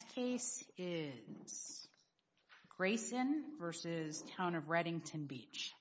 The case is Greacen v. Town of Redington Beach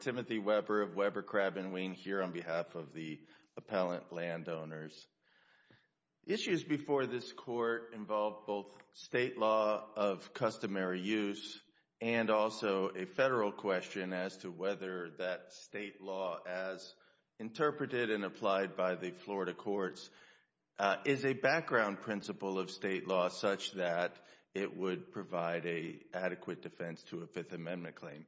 Timothy Weber of Weber Crab & Wien here on behalf of the appellant landowners. Issues before this court involve both state law of customary use and also a federal question as to whether that state law as interpreted and applied by the Florida courts is a background principle of state law such that it would provide an adequate defense to a Fifth Amendment claim.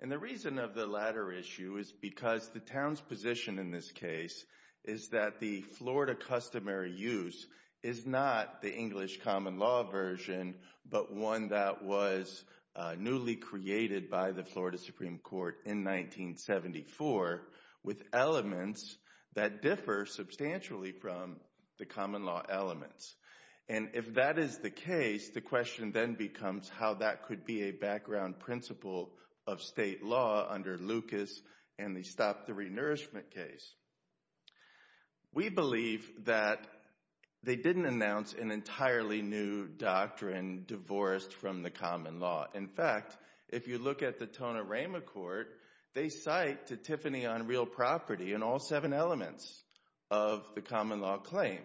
And the reason of the latter issue is because the town's position in this case is that the Florida customary use is not the English common law version but one that was newly created by the Florida Supreme Court in 1974 with elements that differ substantially from the common law elements. And if that is the case, the question then becomes how that could be a background principle of state law under Lucas and they stopped the re-nourishment case. We believe that they didn't announce an entirely new doctrine divorced from the common law. In fact, if you look at the Tona Rama court, they cite to Tiffany on real property in all seven elements of the common law claim.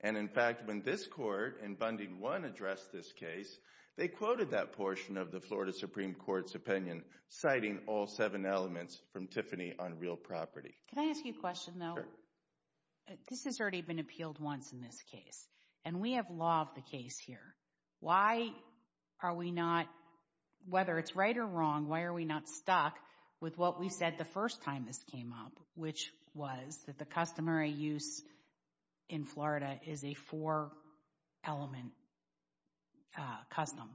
And in fact, when this court in Bundy 1 addressed this case, they quoted that portion of the Florida Supreme Court's opinion citing all seven elements from Tiffany on real property. Can I ask you a question though? Sure. This has already been appealed once in this case and we have law of the case here. Why are we not, whether it's right or wrong, why are we not stuck with what we said the first time this came up, which was that the customary use in Florida is a four-element custom?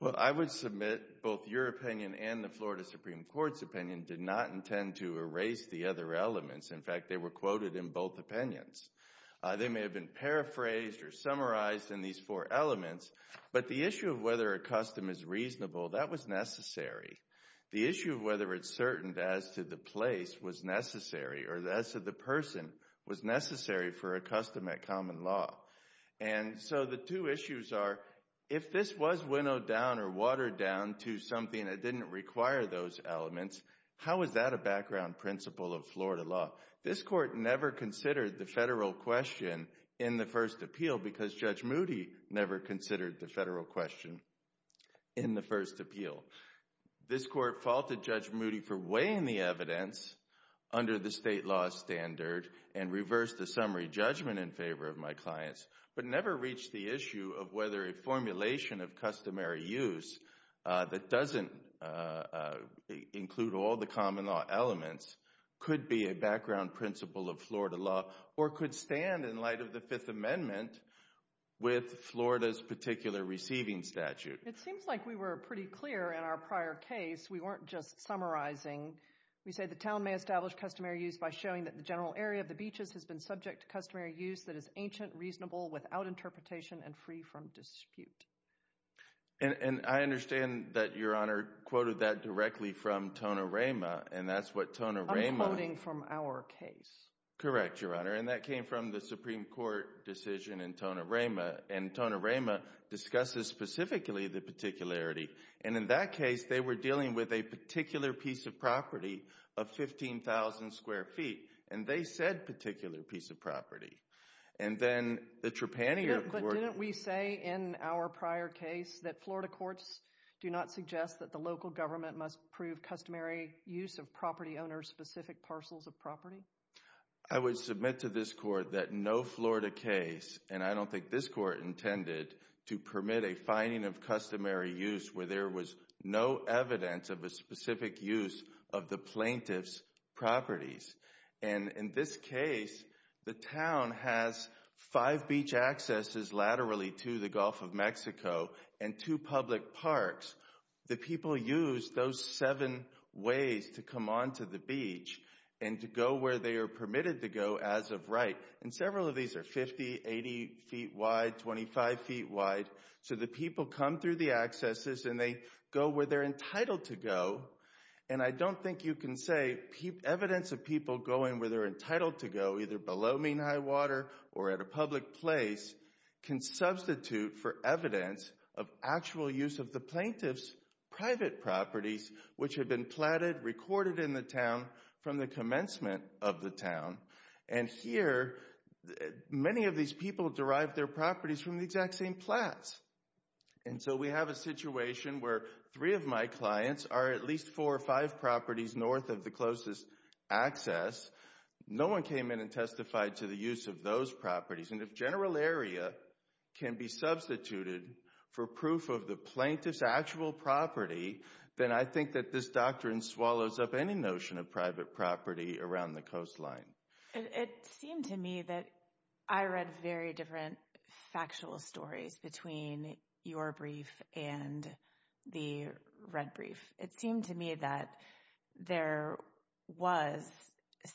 Well I would submit both your opinion and the Florida Supreme Court's opinion did not intend to erase the other elements. In fact, they were quoted in both opinions. They may have been paraphrased or summarized in these four elements, but the issue of whether a custom is reasonable, that was necessary. The issue of whether it's certain as to the place was necessary or as to the person was necessary for a custom at common law. And so the two issues are, if this was winnowed down or watered down to something that didn't require those elements, how is that a background principle of Florida law? This court never considered the federal question in the first appeal because Judge Moody never considered the federal question in the first appeal. This court faulted Judge Moody for weighing the evidence under the state law standard and reversed the summary judgment in favor of my clients, but never reached the issue of whether a formulation of customary use that doesn't include all the common law elements could be a background principle of Florida law or could stand in light of the Fifth Amendment with Florida's particular receiving statute. It seems like we were pretty clear in our prior case. We weren't just summarizing. We say the town may establish customary use by showing that the general area of the beaches has been subject to customary use that is ancient, reasonable, without interpretation, and free from dispute. And I understand that Your Honor quoted that directly from Tona Rayma, and that's what I'm quoting from our case. Correct, Your Honor, and that came from the Supreme Court decision in Tona Rayma, and Tona Rayma discusses specifically the particularity, and in that case, they were dealing with a particular piece of property of 15,000 square feet, and they said particular piece of property. And then the Trepannier Court... Yeah, but didn't we say in our prior case that Florida courts do not suggest that the local government must prove customary use of property owners' specific parcels of property? I would submit to this court that no Florida case, and I don't think this court intended to permit a finding of customary use where there was no evidence of a specific use of the plaintiff's properties. And in this case, the town has five beach accesses laterally to the Gulf of Mexico and two public parks. The people use those seven ways to come onto the beach and to go where they are permitted to go as of right, and several of these are 50, 80 feet wide, 25 feet wide, so the people come through the accesses and they go where they're entitled to go, and I don't think you can say evidence of people going where they're entitled to go, either below mean high water or at a public place, can substitute for evidence of actual use of the plaintiff's private properties which have been platted, recorded in the town from the commencement of the town. And here, many of these people derived their properties from the exact same plats. And so we have a situation where three of my clients are at least four or five properties north of the closest access. No one came in and testified to the use of those properties, and if general area can be substituted for proof of the plaintiff's actual property, then I think that this doctrine swallows up any notion of private property around the coastline. It seemed to me that I read very different factual stories between your brief and the red brief. It seemed to me that there was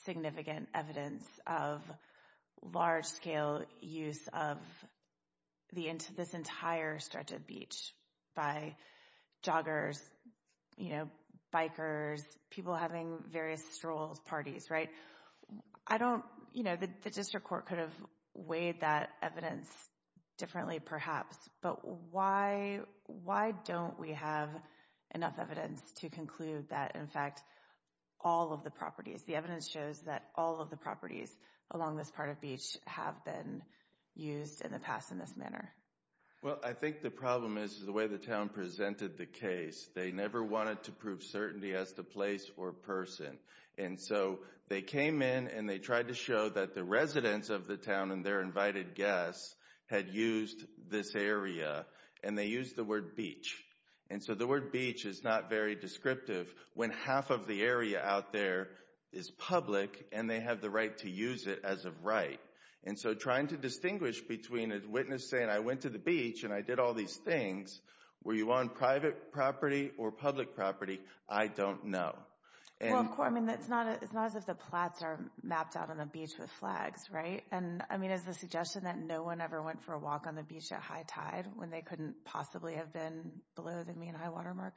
significant evidence of large-scale use of this entire stretch of beach by joggers, bikers, people having various strolls, parties, right? I don't, you know, the district court could have weighed that evidence differently perhaps, but why don't we have enough evidence to conclude that, in fact, all of the properties, the evidence shows that all of the properties along this part of beach have been used in the past in this manner? Well, I think the problem is the way the town presented the case. They never wanted to prove certainty as to place or person. And so they came in and they tried to show that the residents of the town and their invited guests had used this area and they used the word beach. And so the word beach is not very descriptive when half of the area out there is public and they have the right to use it as of right. And so trying to distinguish between a witness saying, I went to the beach and I did all these things, were you on private property or public property, I don't know. Well, of course, I mean, it's not as if the plots are mapped out on a beach with flags, right? And I mean, is the suggestion that no one ever went for a walk on the beach at high tide when they couldn't possibly have been below the mean high water mark?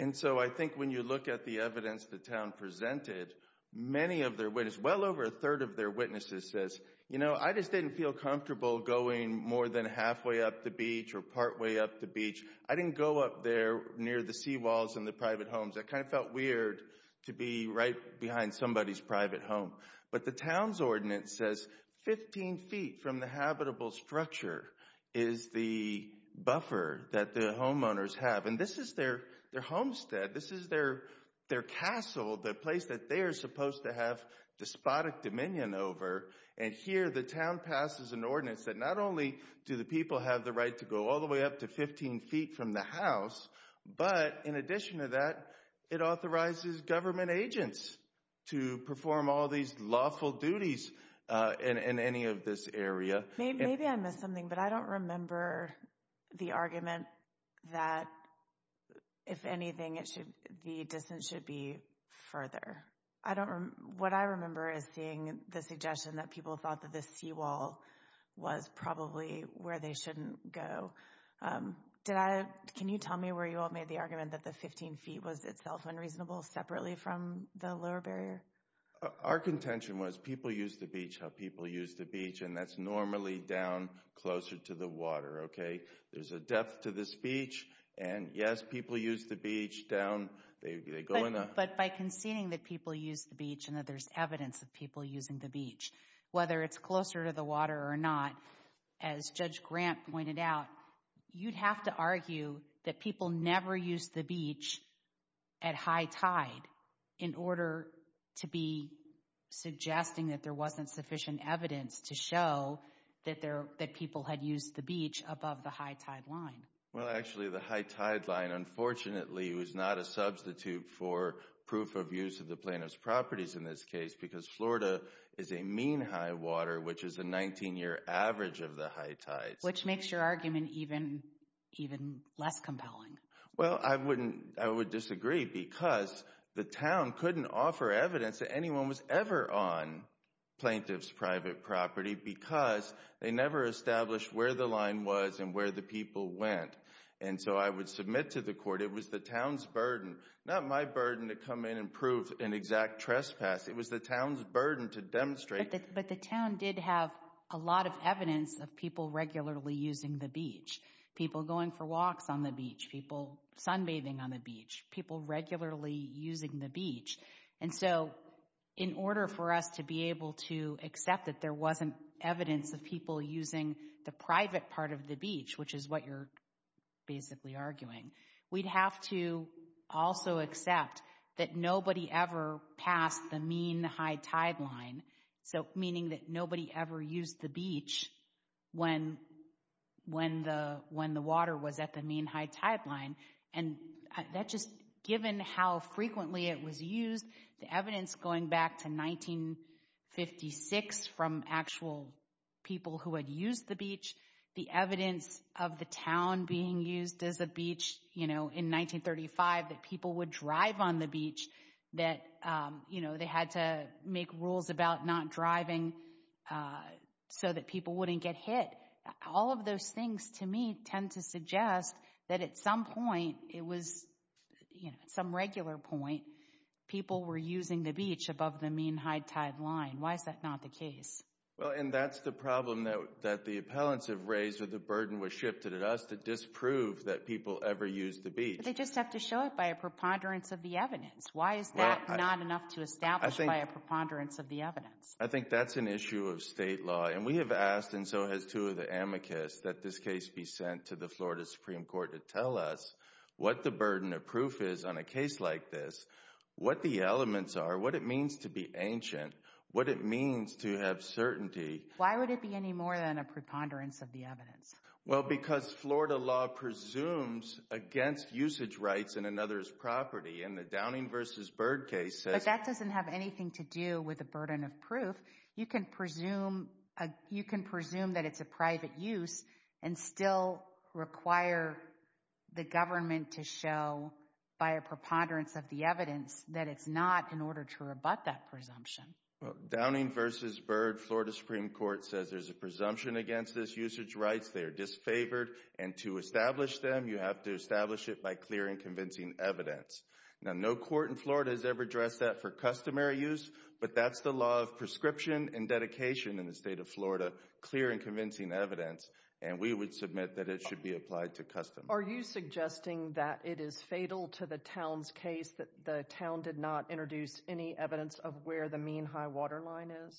And so I think when you look at the evidence the town presented, many of their witnesses, well over a third of their witnesses says, you know, I just didn't feel comfortable going more than halfway up the beach or partway up the beach. I didn't go up there near the seawalls and the private homes. It kind of felt weird to be right behind somebody's private home. But the town's ordinance says 15 feet from the habitable structure is the buffer that the homeowners have. And this is their homestead. This is their castle, the place that they're supposed to have despotic dominion over. And here the town passes an ordinance that not only do the people have the right to go all the way up to 15 feet from the house, but in addition to that, it authorizes government agents to perform all these lawful duties in any of this area. Maybe I missed something, but I don't remember the argument that, if anything, the distance should be further. What I remember is seeing the suggestion that people thought that the seawall was probably where they shouldn't go. Can you tell me where you all made the argument that the 15 feet was itself unreasonable separately from the lower barrier? Our contention was people use the beach how people use the beach, and that's normally down closer to the water, okay? There's a depth to this beach, and yes, people use the beach down. But by conceding that people use the beach and that there's evidence of people using the beach, whether it's closer to the water or not, as Judge Grant pointed out, you'd have to argue that people never used the beach at high tide in order to be suggesting that there wasn't sufficient evidence to show that people had used the beach above the high tide line. Well, actually, the high tide line, unfortunately, was not a substitute for proof of use of the plaintiff's properties in this case, because Florida is a mean high water, which is a 19-year average of the high tides. Which makes your argument even less compelling. Well, I would disagree, because the town couldn't offer evidence that anyone was ever on plaintiff's private property, because they never established where the line was and where the people went. And so I would submit to the court it was the town's burden, not my burden to come in and prove an exact trespass. It was the town's burden to demonstrate. But the town did have a lot of evidence of people regularly using the beach. People going for walks on the beach. People sunbathing on the beach. People regularly using the beach. And so in order for us to be able to accept that there wasn't evidence of people using the private part of the beach, which is what you're basically arguing, we'd have to also accept that nobody ever passed the mean high tide line. So meaning that nobody ever used the beach when the water was at the mean high tide line. And that just, given how frequently it was used, the evidence going back to 1956 from actual people who had used the beach, the evidence of the town being used as a beach, you know, in 1935, that people would drive on the beach, that, you know, they had to make rules about not driving so that people wouldn't get hit. All of those things, to me, tend to suggest that at some point, it was, you know, at some regular point, people were using the beach above the mean high tide line. Why is that not the case? Well, and that's the problem that the appellants have raised with the burden was shifted at us to disprove that people ever used the beach. They just have to show it by a preponderance of the evidence. Why is that not enough to establish by a preponderance of the evidence? I think that's an issue of state law. And we have asked, and so has two of the amicus, that this case be sent to the Florida Supreme Court to tell us what the burden of proof is on a case like this. What the elements are, what it means to be ancient, what it means to have certainty. Why would it be any more than a preponderance of the evidence? Well, because Florida law presumes against usage rights in another's property. And the Downing v. Byrd case says— But that doesn't have anything to do with the burden of proof. You can presume that it's a private use and still require the government to show by a preponderance of the evidence that it's not in order to rebut that presumption. Well, Downing v. Byrd, Florida Supreme Court says there's a presumption against this usage rights. They're disfavored. And to establish them, you have to establish it by clear and convincing evidence. Now, no court in Florida has ever addressed that for customary use, but that's the law of prescription and dedication in the state of Florida, clear and convincing evidence. And we would submit that it should be applied to custom. Are you suggesting that it is fatal to the Town's case that the Town did not introduce any evidence of where the Mean High Water Line is?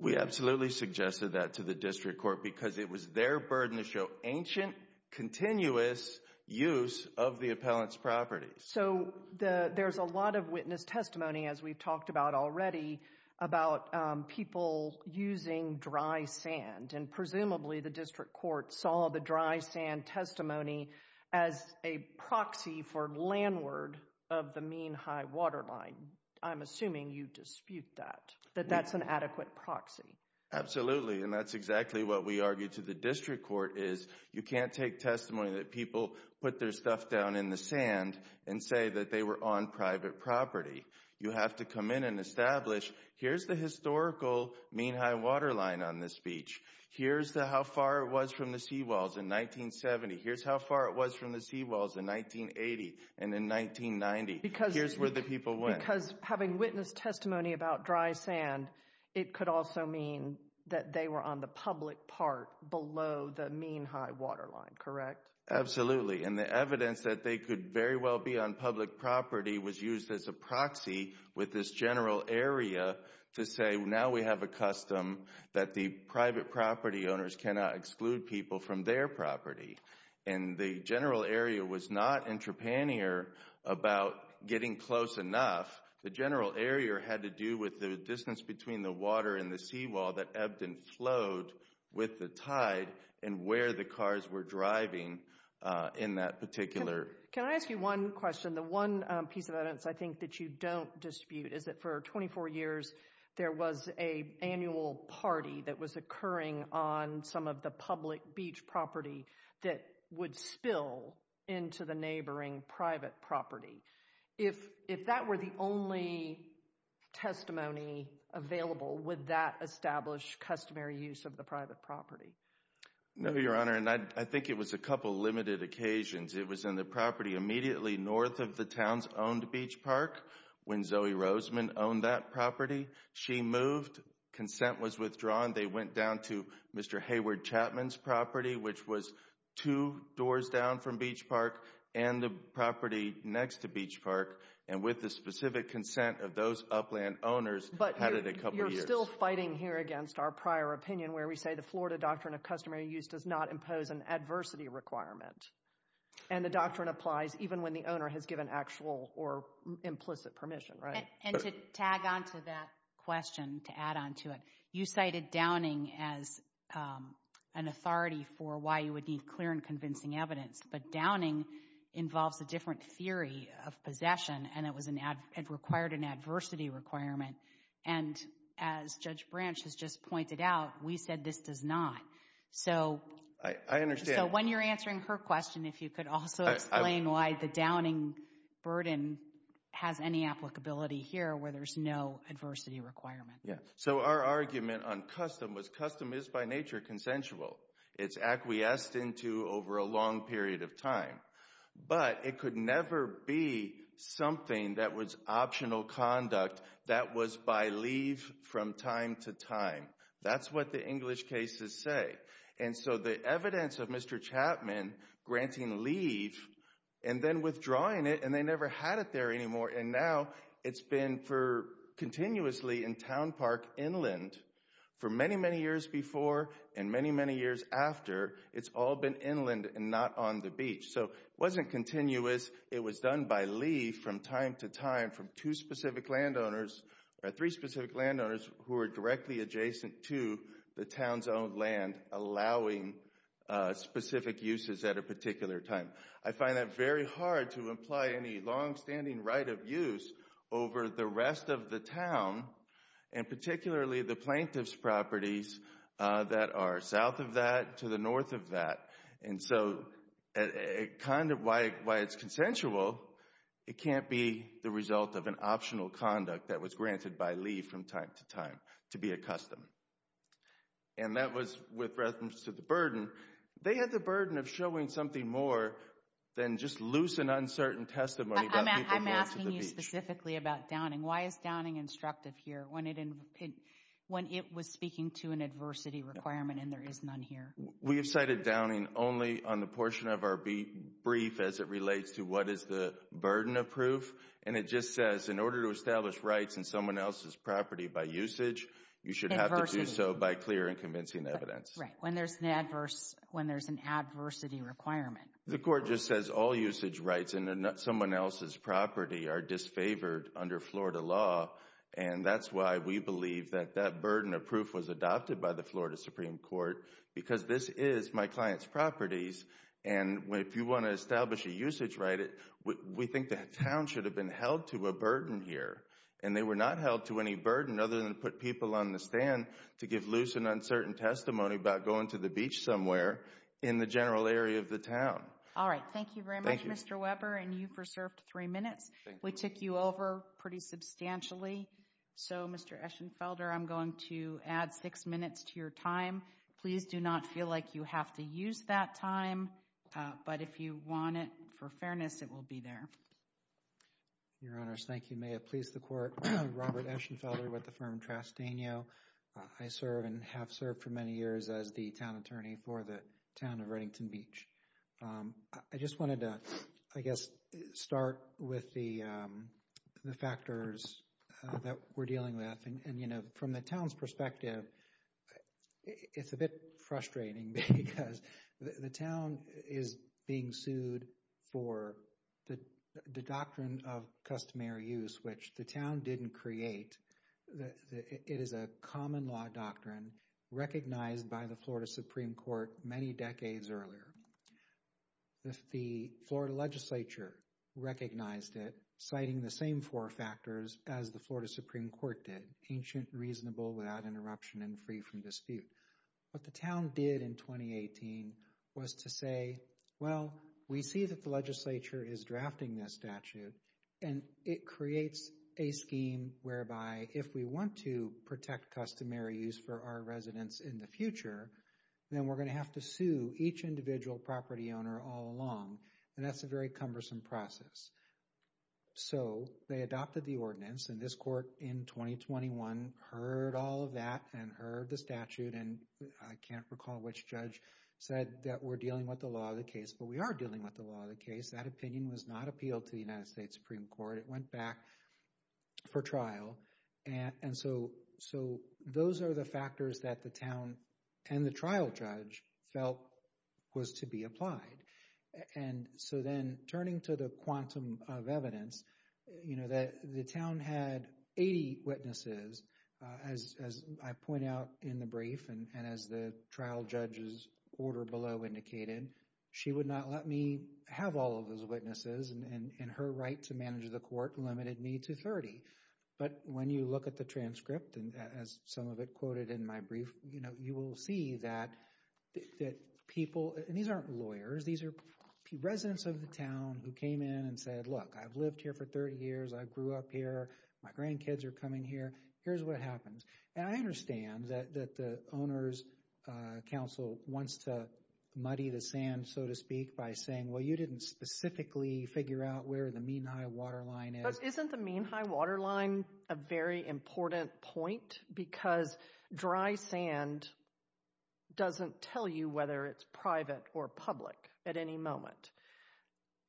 We absolutely suggested that to the District Court because it was their burden to show ancient, continuous use of the appellant's property. So there's a lot of witness testimony, as we've talked about already, about people using dry sand, and presumably the District Court saw the dry sand testimony as a proxy for landward of the Mean High Water Line. I'm assuming you dispute that, that that's an adequate proxy. Absolutely. And that's exactly what we argued to the District Court, is you can't take testimony that people put their stuff down in the sand and say that they were on private property. You have to come in and establish, here's the historical Mean High Water Line on this beach. Here's how far it was from the seawalls in 1970. Here's how far it was from the seawalls in 1980 and in 1990. Here's where the people went. Because having witness testimony about dry sand, it could also mean that they were on the public part below the Mean High Water Line, correct? Absolutely. And the evidence that they could very well be on public property was used as a proxy with this general area to say, now we have a custom that the private property owners cannot exclude people from their property. And the general area was not intrapanear about getting close enough. The general area had to do with the distance between the water and the seawall that Ebden flowed with the tide and where the cars were driving in that particular. Can I ask you one question? The one piece of evidence I think that you don't dispute is that for 24 years there was a annual party that was occurring on some of the public beach property that would spill into the neighboring private property. If that were the only testimony available, would that establish customary use of the private property? No, Your Honor, and I think it was a couple of limited occasions. It was in the property immediately north of the town's owned beach park when Zoe Roseman owned that property. She moved, consent was withdrawn, they went down to Mr. Hayward Chapman's property, which was two doors down from beach park and the property next to beach park, and with the specific consent of those upland owners, had it a couple of years. But you're still fighting here against our prior opinion where we say the Florida Doctrine of Customary Use does not impose an adversity requirement. And the doctrine applies even when the owner has given actual or implicit permission, right? And to tag onto that question, to add onto it, you cited downing as an authority for why you would need clear and convincing evidence, but downing involves a different theory of possession and it required an adversity requirement. And as Judge Branch has just pointed out, we said this does not. So when you're answering her question, if you could also explain why the downing burden has any applicability here where there's no adversity requirement. So our argument on custom was custom is by nature consensual. It's acquiesced into over a long period of time. But it could never be something that was optional conduct that was by leave from time to time. That's what the English cases say. And so the evidence of Mr. Chapman granting leave and then withdrawing it, and they never had it there anymore. And now it's been for continuously in town park inland for many, many years before and many, many years after. It's all been inland and not on the beach. So it wasn't continuous. It was done by leave from time to time from two specific landowners or three specific landowners who are directly adjacent to the town's own land, allowing specific uses at a particular time. I find that very hard to imply any longstanding right of use over the rest of the town and particularly the plaintiff's properties that are south of that to the north of that. And so why it's consensual, it can't be the result of an optional conduct that was granted by leave from time to time to be a custom. And that was with reference to the burden. They had the burden of showing something more than just loose and uncertain testimony. I'm asking you specifically about Downing. Why is Downing instructive here when it was speaking to an adversity requirement and there is none here? We have cited Downing only on the portion of our brief as it relates to what is the burden of proof. And it just says in order to establish rights in someone else's property by usage, you should have to do so by clear and convincing evidence. Right, when there's an adverse, when there's an adversity requirement. The court just says all usage rights in someone else's property are disfavored under Florida law and that's why we believe that that burden of proof was adopted by the Florida Supreme Court because this is my client's properties and if you want to establish a usage right, we think the town should have been held to a burden here. And they were not held to any burden other than put people on the stand to give loose and uncertain testimony about going to the beach somewhere in the general area of the town. All right. Thank you very much, Mr. Weber. And you've reserved three minutes. We took you over pretty substantially. So Mr. Eschenfelder, I'm going to add six minutes to your time. Please do not feel like you have to use that time. But if you want it, for fairness, it will be there. Your Honors, thank you. May it please the Court. Robert Eschenfelder with the firm Trastanio. I serve and have served for many years as the town attorney for the town of Reddington Beach. I just wanted to, I guess, start with the factors that we're dealing with. And, you know, from the town's perspective, it's a bit frustrating because the town is being sued for the doctrine of customary use, which the town didn't create. It is a common law doctrine recognized by the Florida Supreme Court many decades earlier. The Florida legislature recognized it, citing the same four factors as the Florida Supreme Court did, ancient, reasonable, without interruption, and free from dispute. What the town did in 2018 was to say, well, we see that the legislature is drafting this statute, and it creates a scheme whereby if we want to protect customary use for our residents in the future, then we're going to have to sue each individual property owner all along. And that's a very cumbersome process. So they adopted the ordinance, and this court in 2021 heard all of that and heard the statute. And I can't recall which judge said that we're dealing with the law of the case, but we are dealing with the law of the case. That opinion was not appealed to the United States Supreme Court. It went back for trial. And so those are the factors that the town and the trial judge felt was to be applied. And so then, turning to the quantum of evidence, you know, the town had 80 witnesses. As I point out in the brief, and as the trial judge's order below indicated, she would not let me have all of those witnesses, and her right to manage the court limited me to 30. But when you look at the transcript, and as some of it quoted in my brief, you know, you will see that people, and these aren't lawyers, these are residents of the town who came in and said, look, I've lived here for 30 years, I grew up here, my grandkids are coming here, here's what happens. And I understand that the owner's counsel wants to muddy the sand, so to speak, by saying, well, you didn't specifically figure out where the Mean High Water Line is. But isn't the Mean High Water Line a very important point? Because dry sand doesn't tell you whether it's private or public at any moment.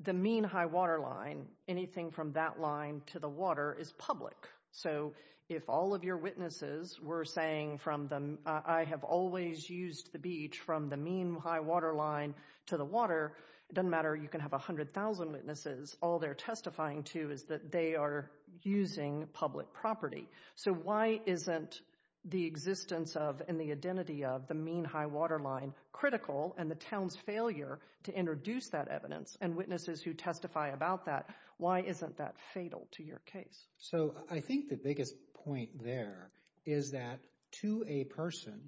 The Mean High Water Line, anything from that line to the water is public. So if all of your witnesses were saying from the, I have always used the beach from the Mean High Water Line to the water, it doesn't matter, you can have 100,000 witnesses, all they're testifying to is that they are using public property. So why isn't the existence of, and the identity of, the Mean High Water Line critical, and the town's failure to introduce that evidence, and witnesses who testify about that, why isn't that fatal to your case? So I think the biggest point there is that to a person,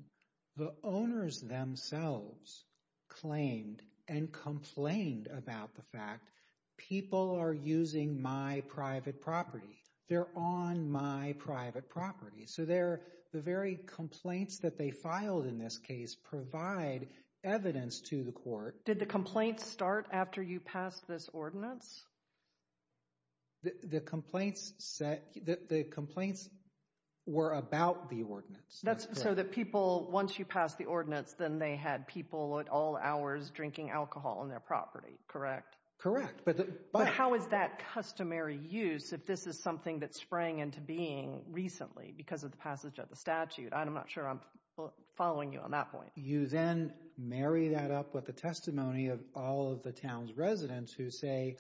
the owners themselves claimed and complained about the fact, people are using my private property. They're on my private property. So the very complaints that they filed in this case provide evidence to the court. Did the complaints start after you passed this ordinance? The complaints were about the ordinance. So the people, once you passed the ordinance, then they had people at all hours drinking alcohol on their property, correct? Correct. But how is that customary use, if this is something that sprang into being recently because of the passage of the statute? I'm not sure I'm following you on that point. You then marry that up with the testimony of all of the town's residents who say,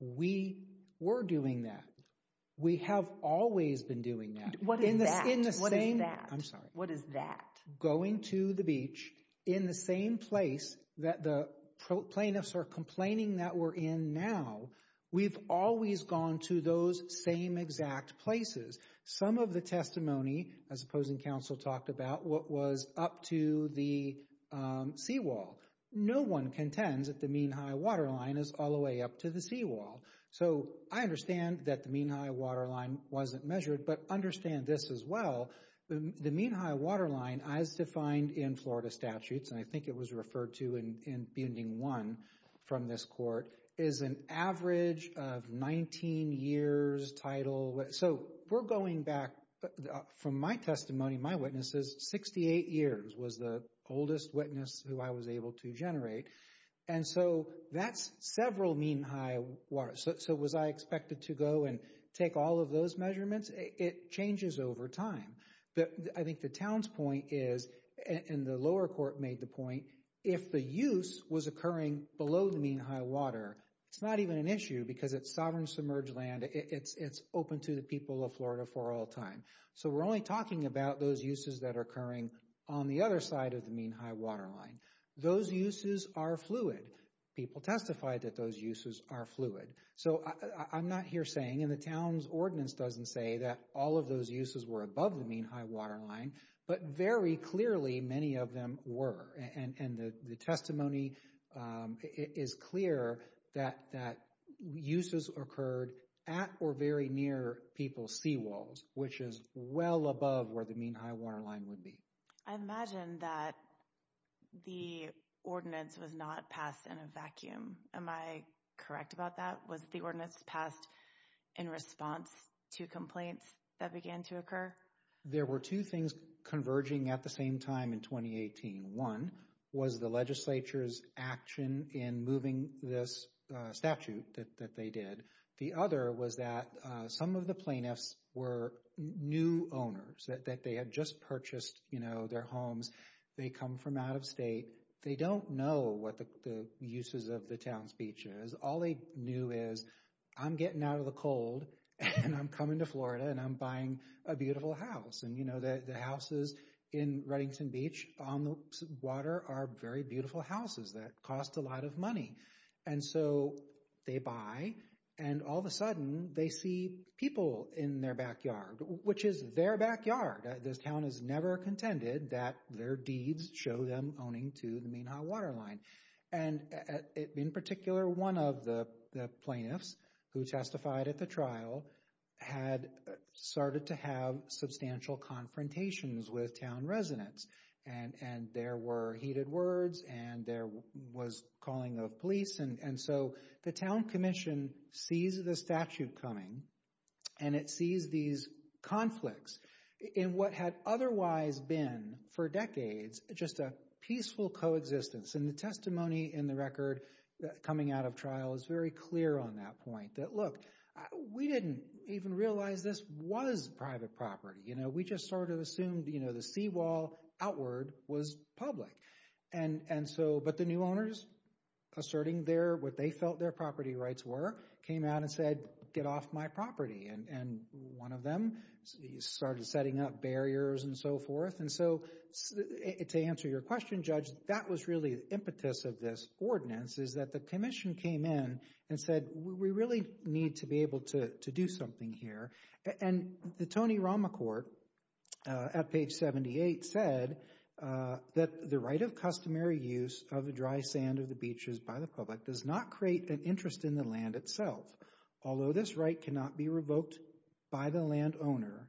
we were doing that, we have always been doing that. What is that? What is that? I'm sorry. What is that? Going to the beach in the same place that the plaintiffs are complaining that we're in now, we've always gone to those same exact places. Some of the testimony, as opposing counsel talked about, what was up to the seawall. No one contends that the mean high waterline is all the way up to the seawall. So I understand that the mean high waterline wasn't measured, but understand this as well. The mean high waterline, as defined in Florida statutes, and I think it was referred to in this court, is an average of 19 years title. So we're going back, from my testimony, my witnesses, 68 years was the oldest witness who I was able to generate. And so that's several mean high waters. So was I expected to go and take all of those measurements? It changes over time. I think the town's point is, and the lower court made the point, if the use was occurring below the mean high water, it's not even an issue because it's sovereign submerged land. It's open to the people of Florida for all time. So we're only talking about those uses that are occurring on the other side of the mean high waterline. Those uses are fluid. People testified that those uses are fluid. So I'm not here saying, and the town's ordinance doesn't say that all of those uses were above the mean high waterline, but very clearly many of them were. And the testimony is clear that uses occurred at or very near people's seawalls, which is well above where the mean high waterline would be. I imagine that the ordinance was not passed in a vacuum. Am I correct about that? Was the ordinance passed in response to complaints that began to occur? There were two things converging at the same time in 2018. One was the legislature's action in moving this statute that they did. The other was that some of the plaintiffs were new owners, that they had just purchased their homes. They come from out of state. They don't know what the uses of the town's beach is. All they knew is, I'm getting out of the cold, and I'm coming to Florida, and I'm buying a beautiful house. And the houses in Reddington Beach on the water are very beautiful houses that cost a lot of money. And so they buy, and all of a sudden they see people in their backyard, which is their backyard. This town has never contended that their deeds show them owning to the mean high waterline. And in particular, one of the plaintiffs who testified at the trial had started to have substantial confrontations with town residents. And there were heated words, and there was calling of police. And so the town commission sees the statute coming, and it sees these conflicts in what had otherwise been, for decades, just a peaceful coexistence. And the testimony in the record coming out of trial is very clear on that point, that look, we didn't even realize this was private property. We just sort of assumed the seawall outward was public. But the new owners, asserting what they felt their property rights were, came out and said, get off my property. And one of them started setting up barriers and so forth. And so to answer your question, Judge, that was really the impetus of this ordinance, is that the commission came in and said, we really need to be able to do something here. And the Tony Ramachort, at page 78, said that the right of customary use of the dry sand of the beaches by the public does not create an interest in the land itself. Although this right cannot be revoked by the landowner,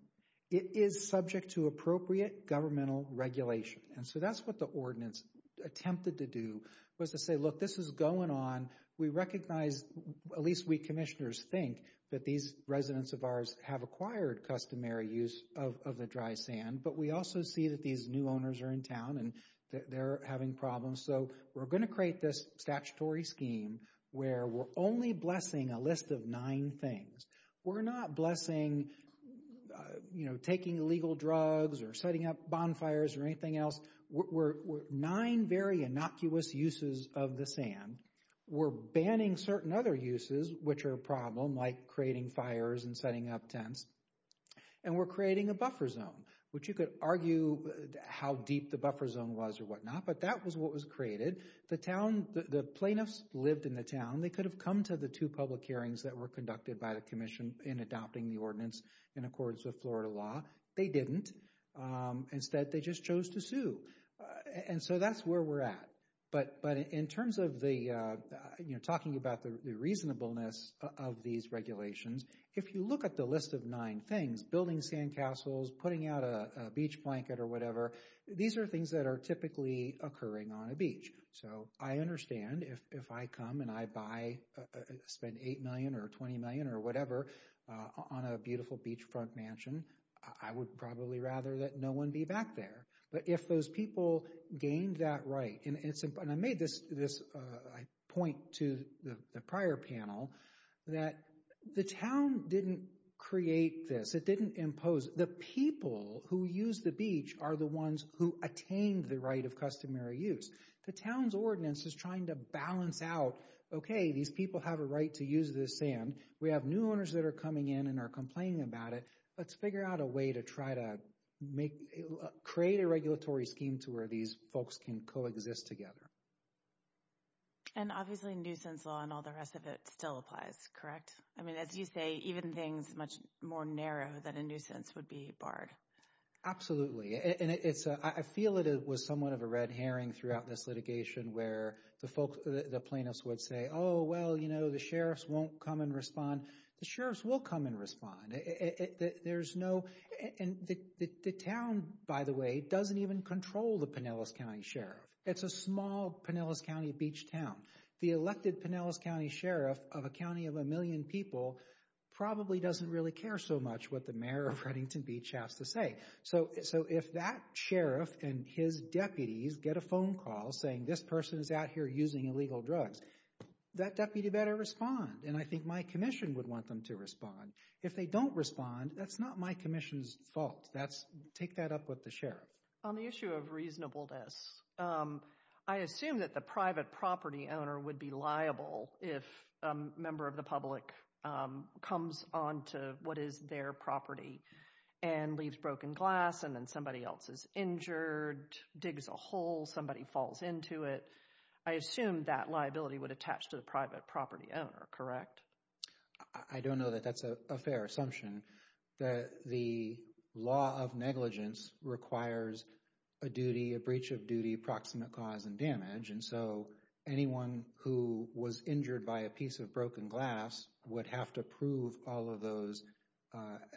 it is subject to appropriate governmental regulation. And so that's what the ordinance attempted to do, was to say, look, this is going on. We recognize, at least we commissioners think, that these residents of ours have acquired customary use of the dry sand. But we also see that these new owners are in town and they're having problems. So we're going to create this statutory scheme where we're only blessing a list of nine things. We're not blessing, you know, taking illegal drugs or setting up bonfires or anything else. We're nine very innocuous uses of the sand. We're banning certain other uses, which are a problem, like creating fires and setting up tents. And we're creating a buffer zone, which you could argue how deep the buffer zone was or whatnot, but that was what was created. The town, the plaintiffs lived in the town. They could have come to the two public hearings that were conducted by the commission in adopting the ordinance in accordance with Florida law. They didn't. Instead, they just chose to sue. And so that's where we're at. But in terms of the, you know, talking about the reasonableness of these regulations, if you look at the list of nine things, building sand castles, putting out a beach blanket or whatever, these are things that are typically occurring on a beach. So I understand if I come and I buy, spend $8 million or $20 million or whatever on a beautiful beachfront mansion, I would probably rather that no one be back there. But if those people gained that right, and I made this point to the prior panel, that the town didn't create this. It didn't impose. The people who use the beach are the ones who attained the right of customary use. The town's ordinance is trying to balance out, okay, these people have a right to use this sand. We have new owners that are coming in and are complaining about it. Let's figure out a way to try to create a regulatory scheme to where these folks can coexist together. And obviously nuisance law and all the rest of it still applies, correct? I mean, as you say, even things much more narrow than a nuisance would be barred. Absolutely. And I feel it was somewhat of a red herring throughout this litigation where the plaintiffs would say, oh, well, you know, the sheriffs won't come and respond. The sheriffs will come and respond. There's no—and the town, by the way, doesn't even control the Pinellas County Sheriff. It's a small Pinellas County beach town. The elected Pinellas County Sheriff of a county of a million people probably doesn't really care so much what the mayor of Reddington Beach has to say. So if that sheriff and his deputies get a phone call saying, this person is out here using illegal drugs, that deputy better respond. And I think my commission would want them to respond. If they don't respond, that's not my commission's fault. Take that up with the sheriff. On the issue of reasonableness, I assume that the private property owner would be liable if a member of the public comes onto what is their property and leaves broken glass and then somebody else is injured, digs a hole, somebody falls into it. I assume that liability would attach to the private property owner, correct? I don't know that that's a fair assumption. The law of negligence requires a duty, a breach of duty, to be proximate cause and damage. And so anyone who was injured by a piece of broken glass would have to prove all of those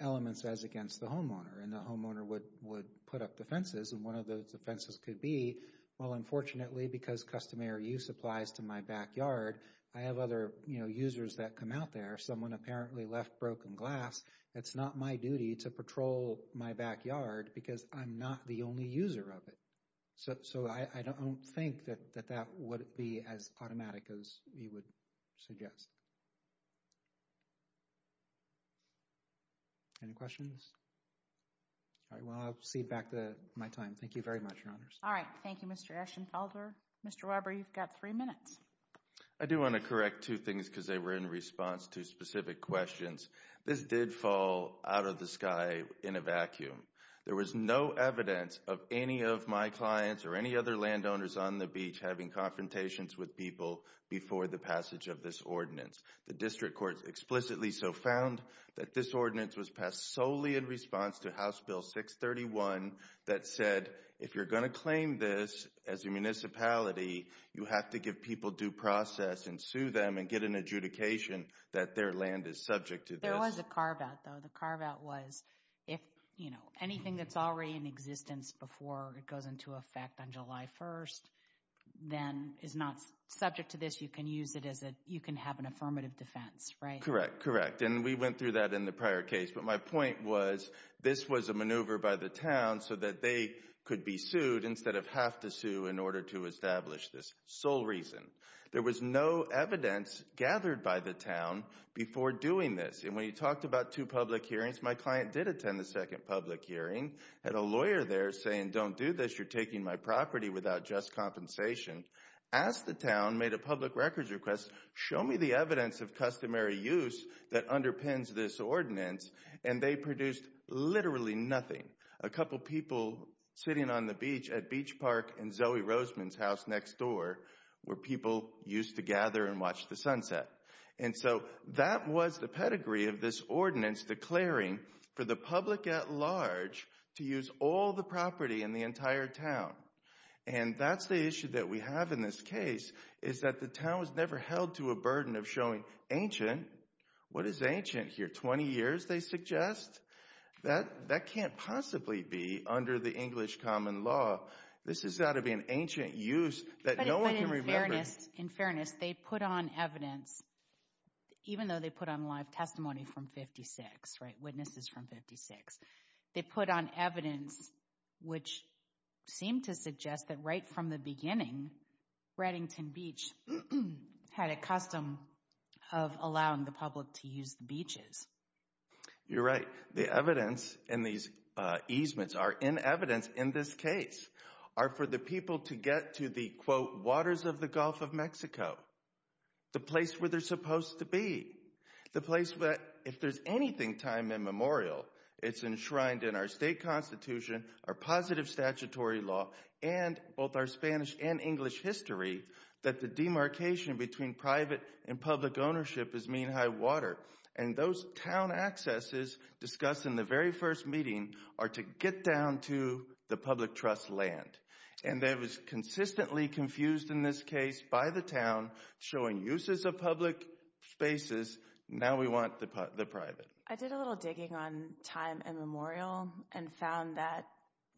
elements as against the homeowner. And the homeowner would put up defenses. And one of those defenses could be, well, unfortunately, because customary use applies to my backyard, I have other users that come out there. Someone apparently left broken glass. It's not my duty to patrol my backyard because I'm not the only user of it. So I don't think that that would be as automatic as you would suggest. Any questions? All right, well, I'll cede back my time. Thank you very much, Your Honors. All right, thank you, Mr. Eschenfelder. Mr. Weber, you've got three minutes. I do want to correct two things because they were in response to specific questions. This did fall out of the sky in a vacuum. There was no evidence of any of my clients or any other landowners on the beach having confrontations with people before the passage of this ordinance. The district courts explicitly so found that this ordinance was passed solely in response to House Bill 631 that said, if you're going to claim this as a municipality, you have to give people due process and sue them and get an adjudication that their land is subject to this. There was a carve-out, though. The carve-out was if anything that's already in existence before it goes into effect on July 1st then is not subject to this, you can use it as you can have an affirmative defense, right? Correct, correct. And we went through that in the prior case. But my point was this was a maneuver by the town so that they could be sued instead of have to sue in order to establish this sole reason. There was no evidence gathered by the town before doing this. And when you talked about two public hearings, my client did attend the second public hearing, had a lawyer there saying don't do this, you're taking my property without just compensation, asked the town, made a public records request, show me the evidence of customary use that underpins this ordinance, and they produced literally nothing. A couple people sitting on the beach at Beach Park and Zoe Roseman's house next door where people used to gather and watch the sunset. And so that was the pedigree of this ordinance declaring for the public at large to use all the property in the entire town. And that's the issue that we have in this case is that the town was never held to a burden of showing ancient. What is ancient here, 20 years they suggest? That can't possibly be under the English common law. This has got to be an ancient use that no one can remember. In fairness, they put on evidence, even though they put on live testimony from 56, witnesses from 56, they put on evidence which seemed to suggest that right from the beginning, Reddington Beach had a custom of allowing the public to use the beaches. You're right. The evidence in these easements are in evidence in this case are for the people to get to the, quote, waters of the Gulf of Mexico, the place where they're supposed to be, the place where if there's anything time immemorial, it's enshrined in our state constitution, our positive statutory law, and both our Spanish and English history that the demarcation between private and public ownership is mean high water. And those town accesses discussed in the very first meeting are to get down to the public trust land. And that was consistently confused in this case by the town showing uses of public spaces. Now we want the private. I did a little digging on time immemorial and found that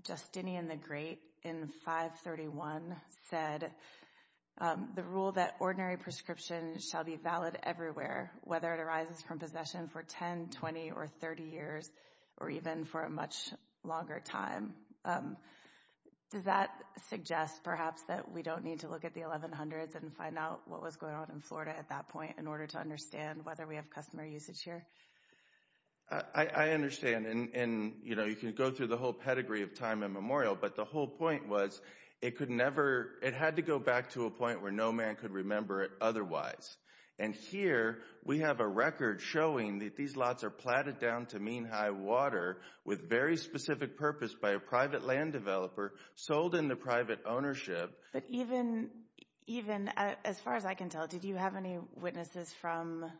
Justinian the Great, in 531, said the rule that ordinary prescription shall be valid everywhere, whether it arises from possession for 10, 20, or 30 years, or even for a much longer time. Does that suggest perhaps that we don't need to look at the 1100s and find out what was going on in Florida at that point in order to understand whether we have customer usage here? I understand. And, you know, you can go through the whole pedigree of time immemorial, but the whole point was it had to go back to a point where no man could remember it otherwise. And here we have a record showing that these lots are platted down to mean high water with very specific purpose by a private land developer sold into private ownership. But even as far as I can tell, did you have any witnesses from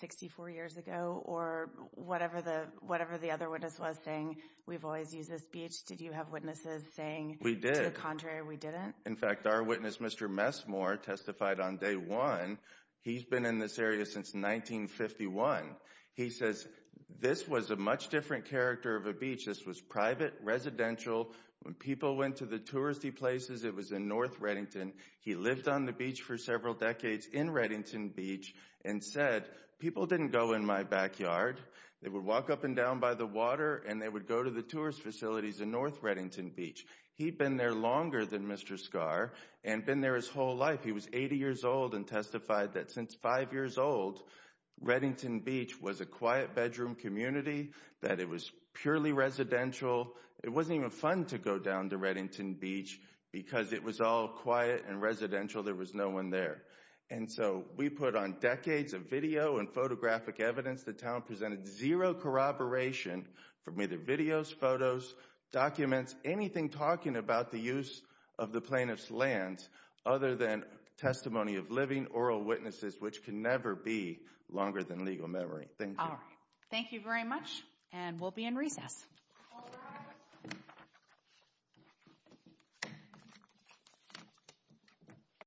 64 years ago or whatever the other witness was saying, we've always used this beach, did you have witnesses saying to the contrary we didn't? In fact, our witness, Mr. Messmore, testified on day one. He's been in this area since 1951. He says this was a much different character of a beach. This was private, residential. When people went to the touristy places, it was in North Reddington. He lived on the beach for several decades in Reddington Beach and said people didn't go in my backyard. They would walk up and down by the water and they would go to the tourist facilities in North Reddington Beach. He'd been there longer than Mr. Scarr and been there his whole life. He was 80 years old and testified that since five years old, Reddington Beach was a quiet bedroom community, that it was purely residential. It wasn't even fun to go down to Reddington Beach because it was all quiet and residential. There was no one there. And so we put on decades of video and photographic evidence. The town presented zero corroboration from either videos, photos, documents, anything talking about the use of the plaintiff's land other than testimony of living oral witnesses, which can never be longer than legal memory. Thank you. Thank you very much, and we'll be in recess.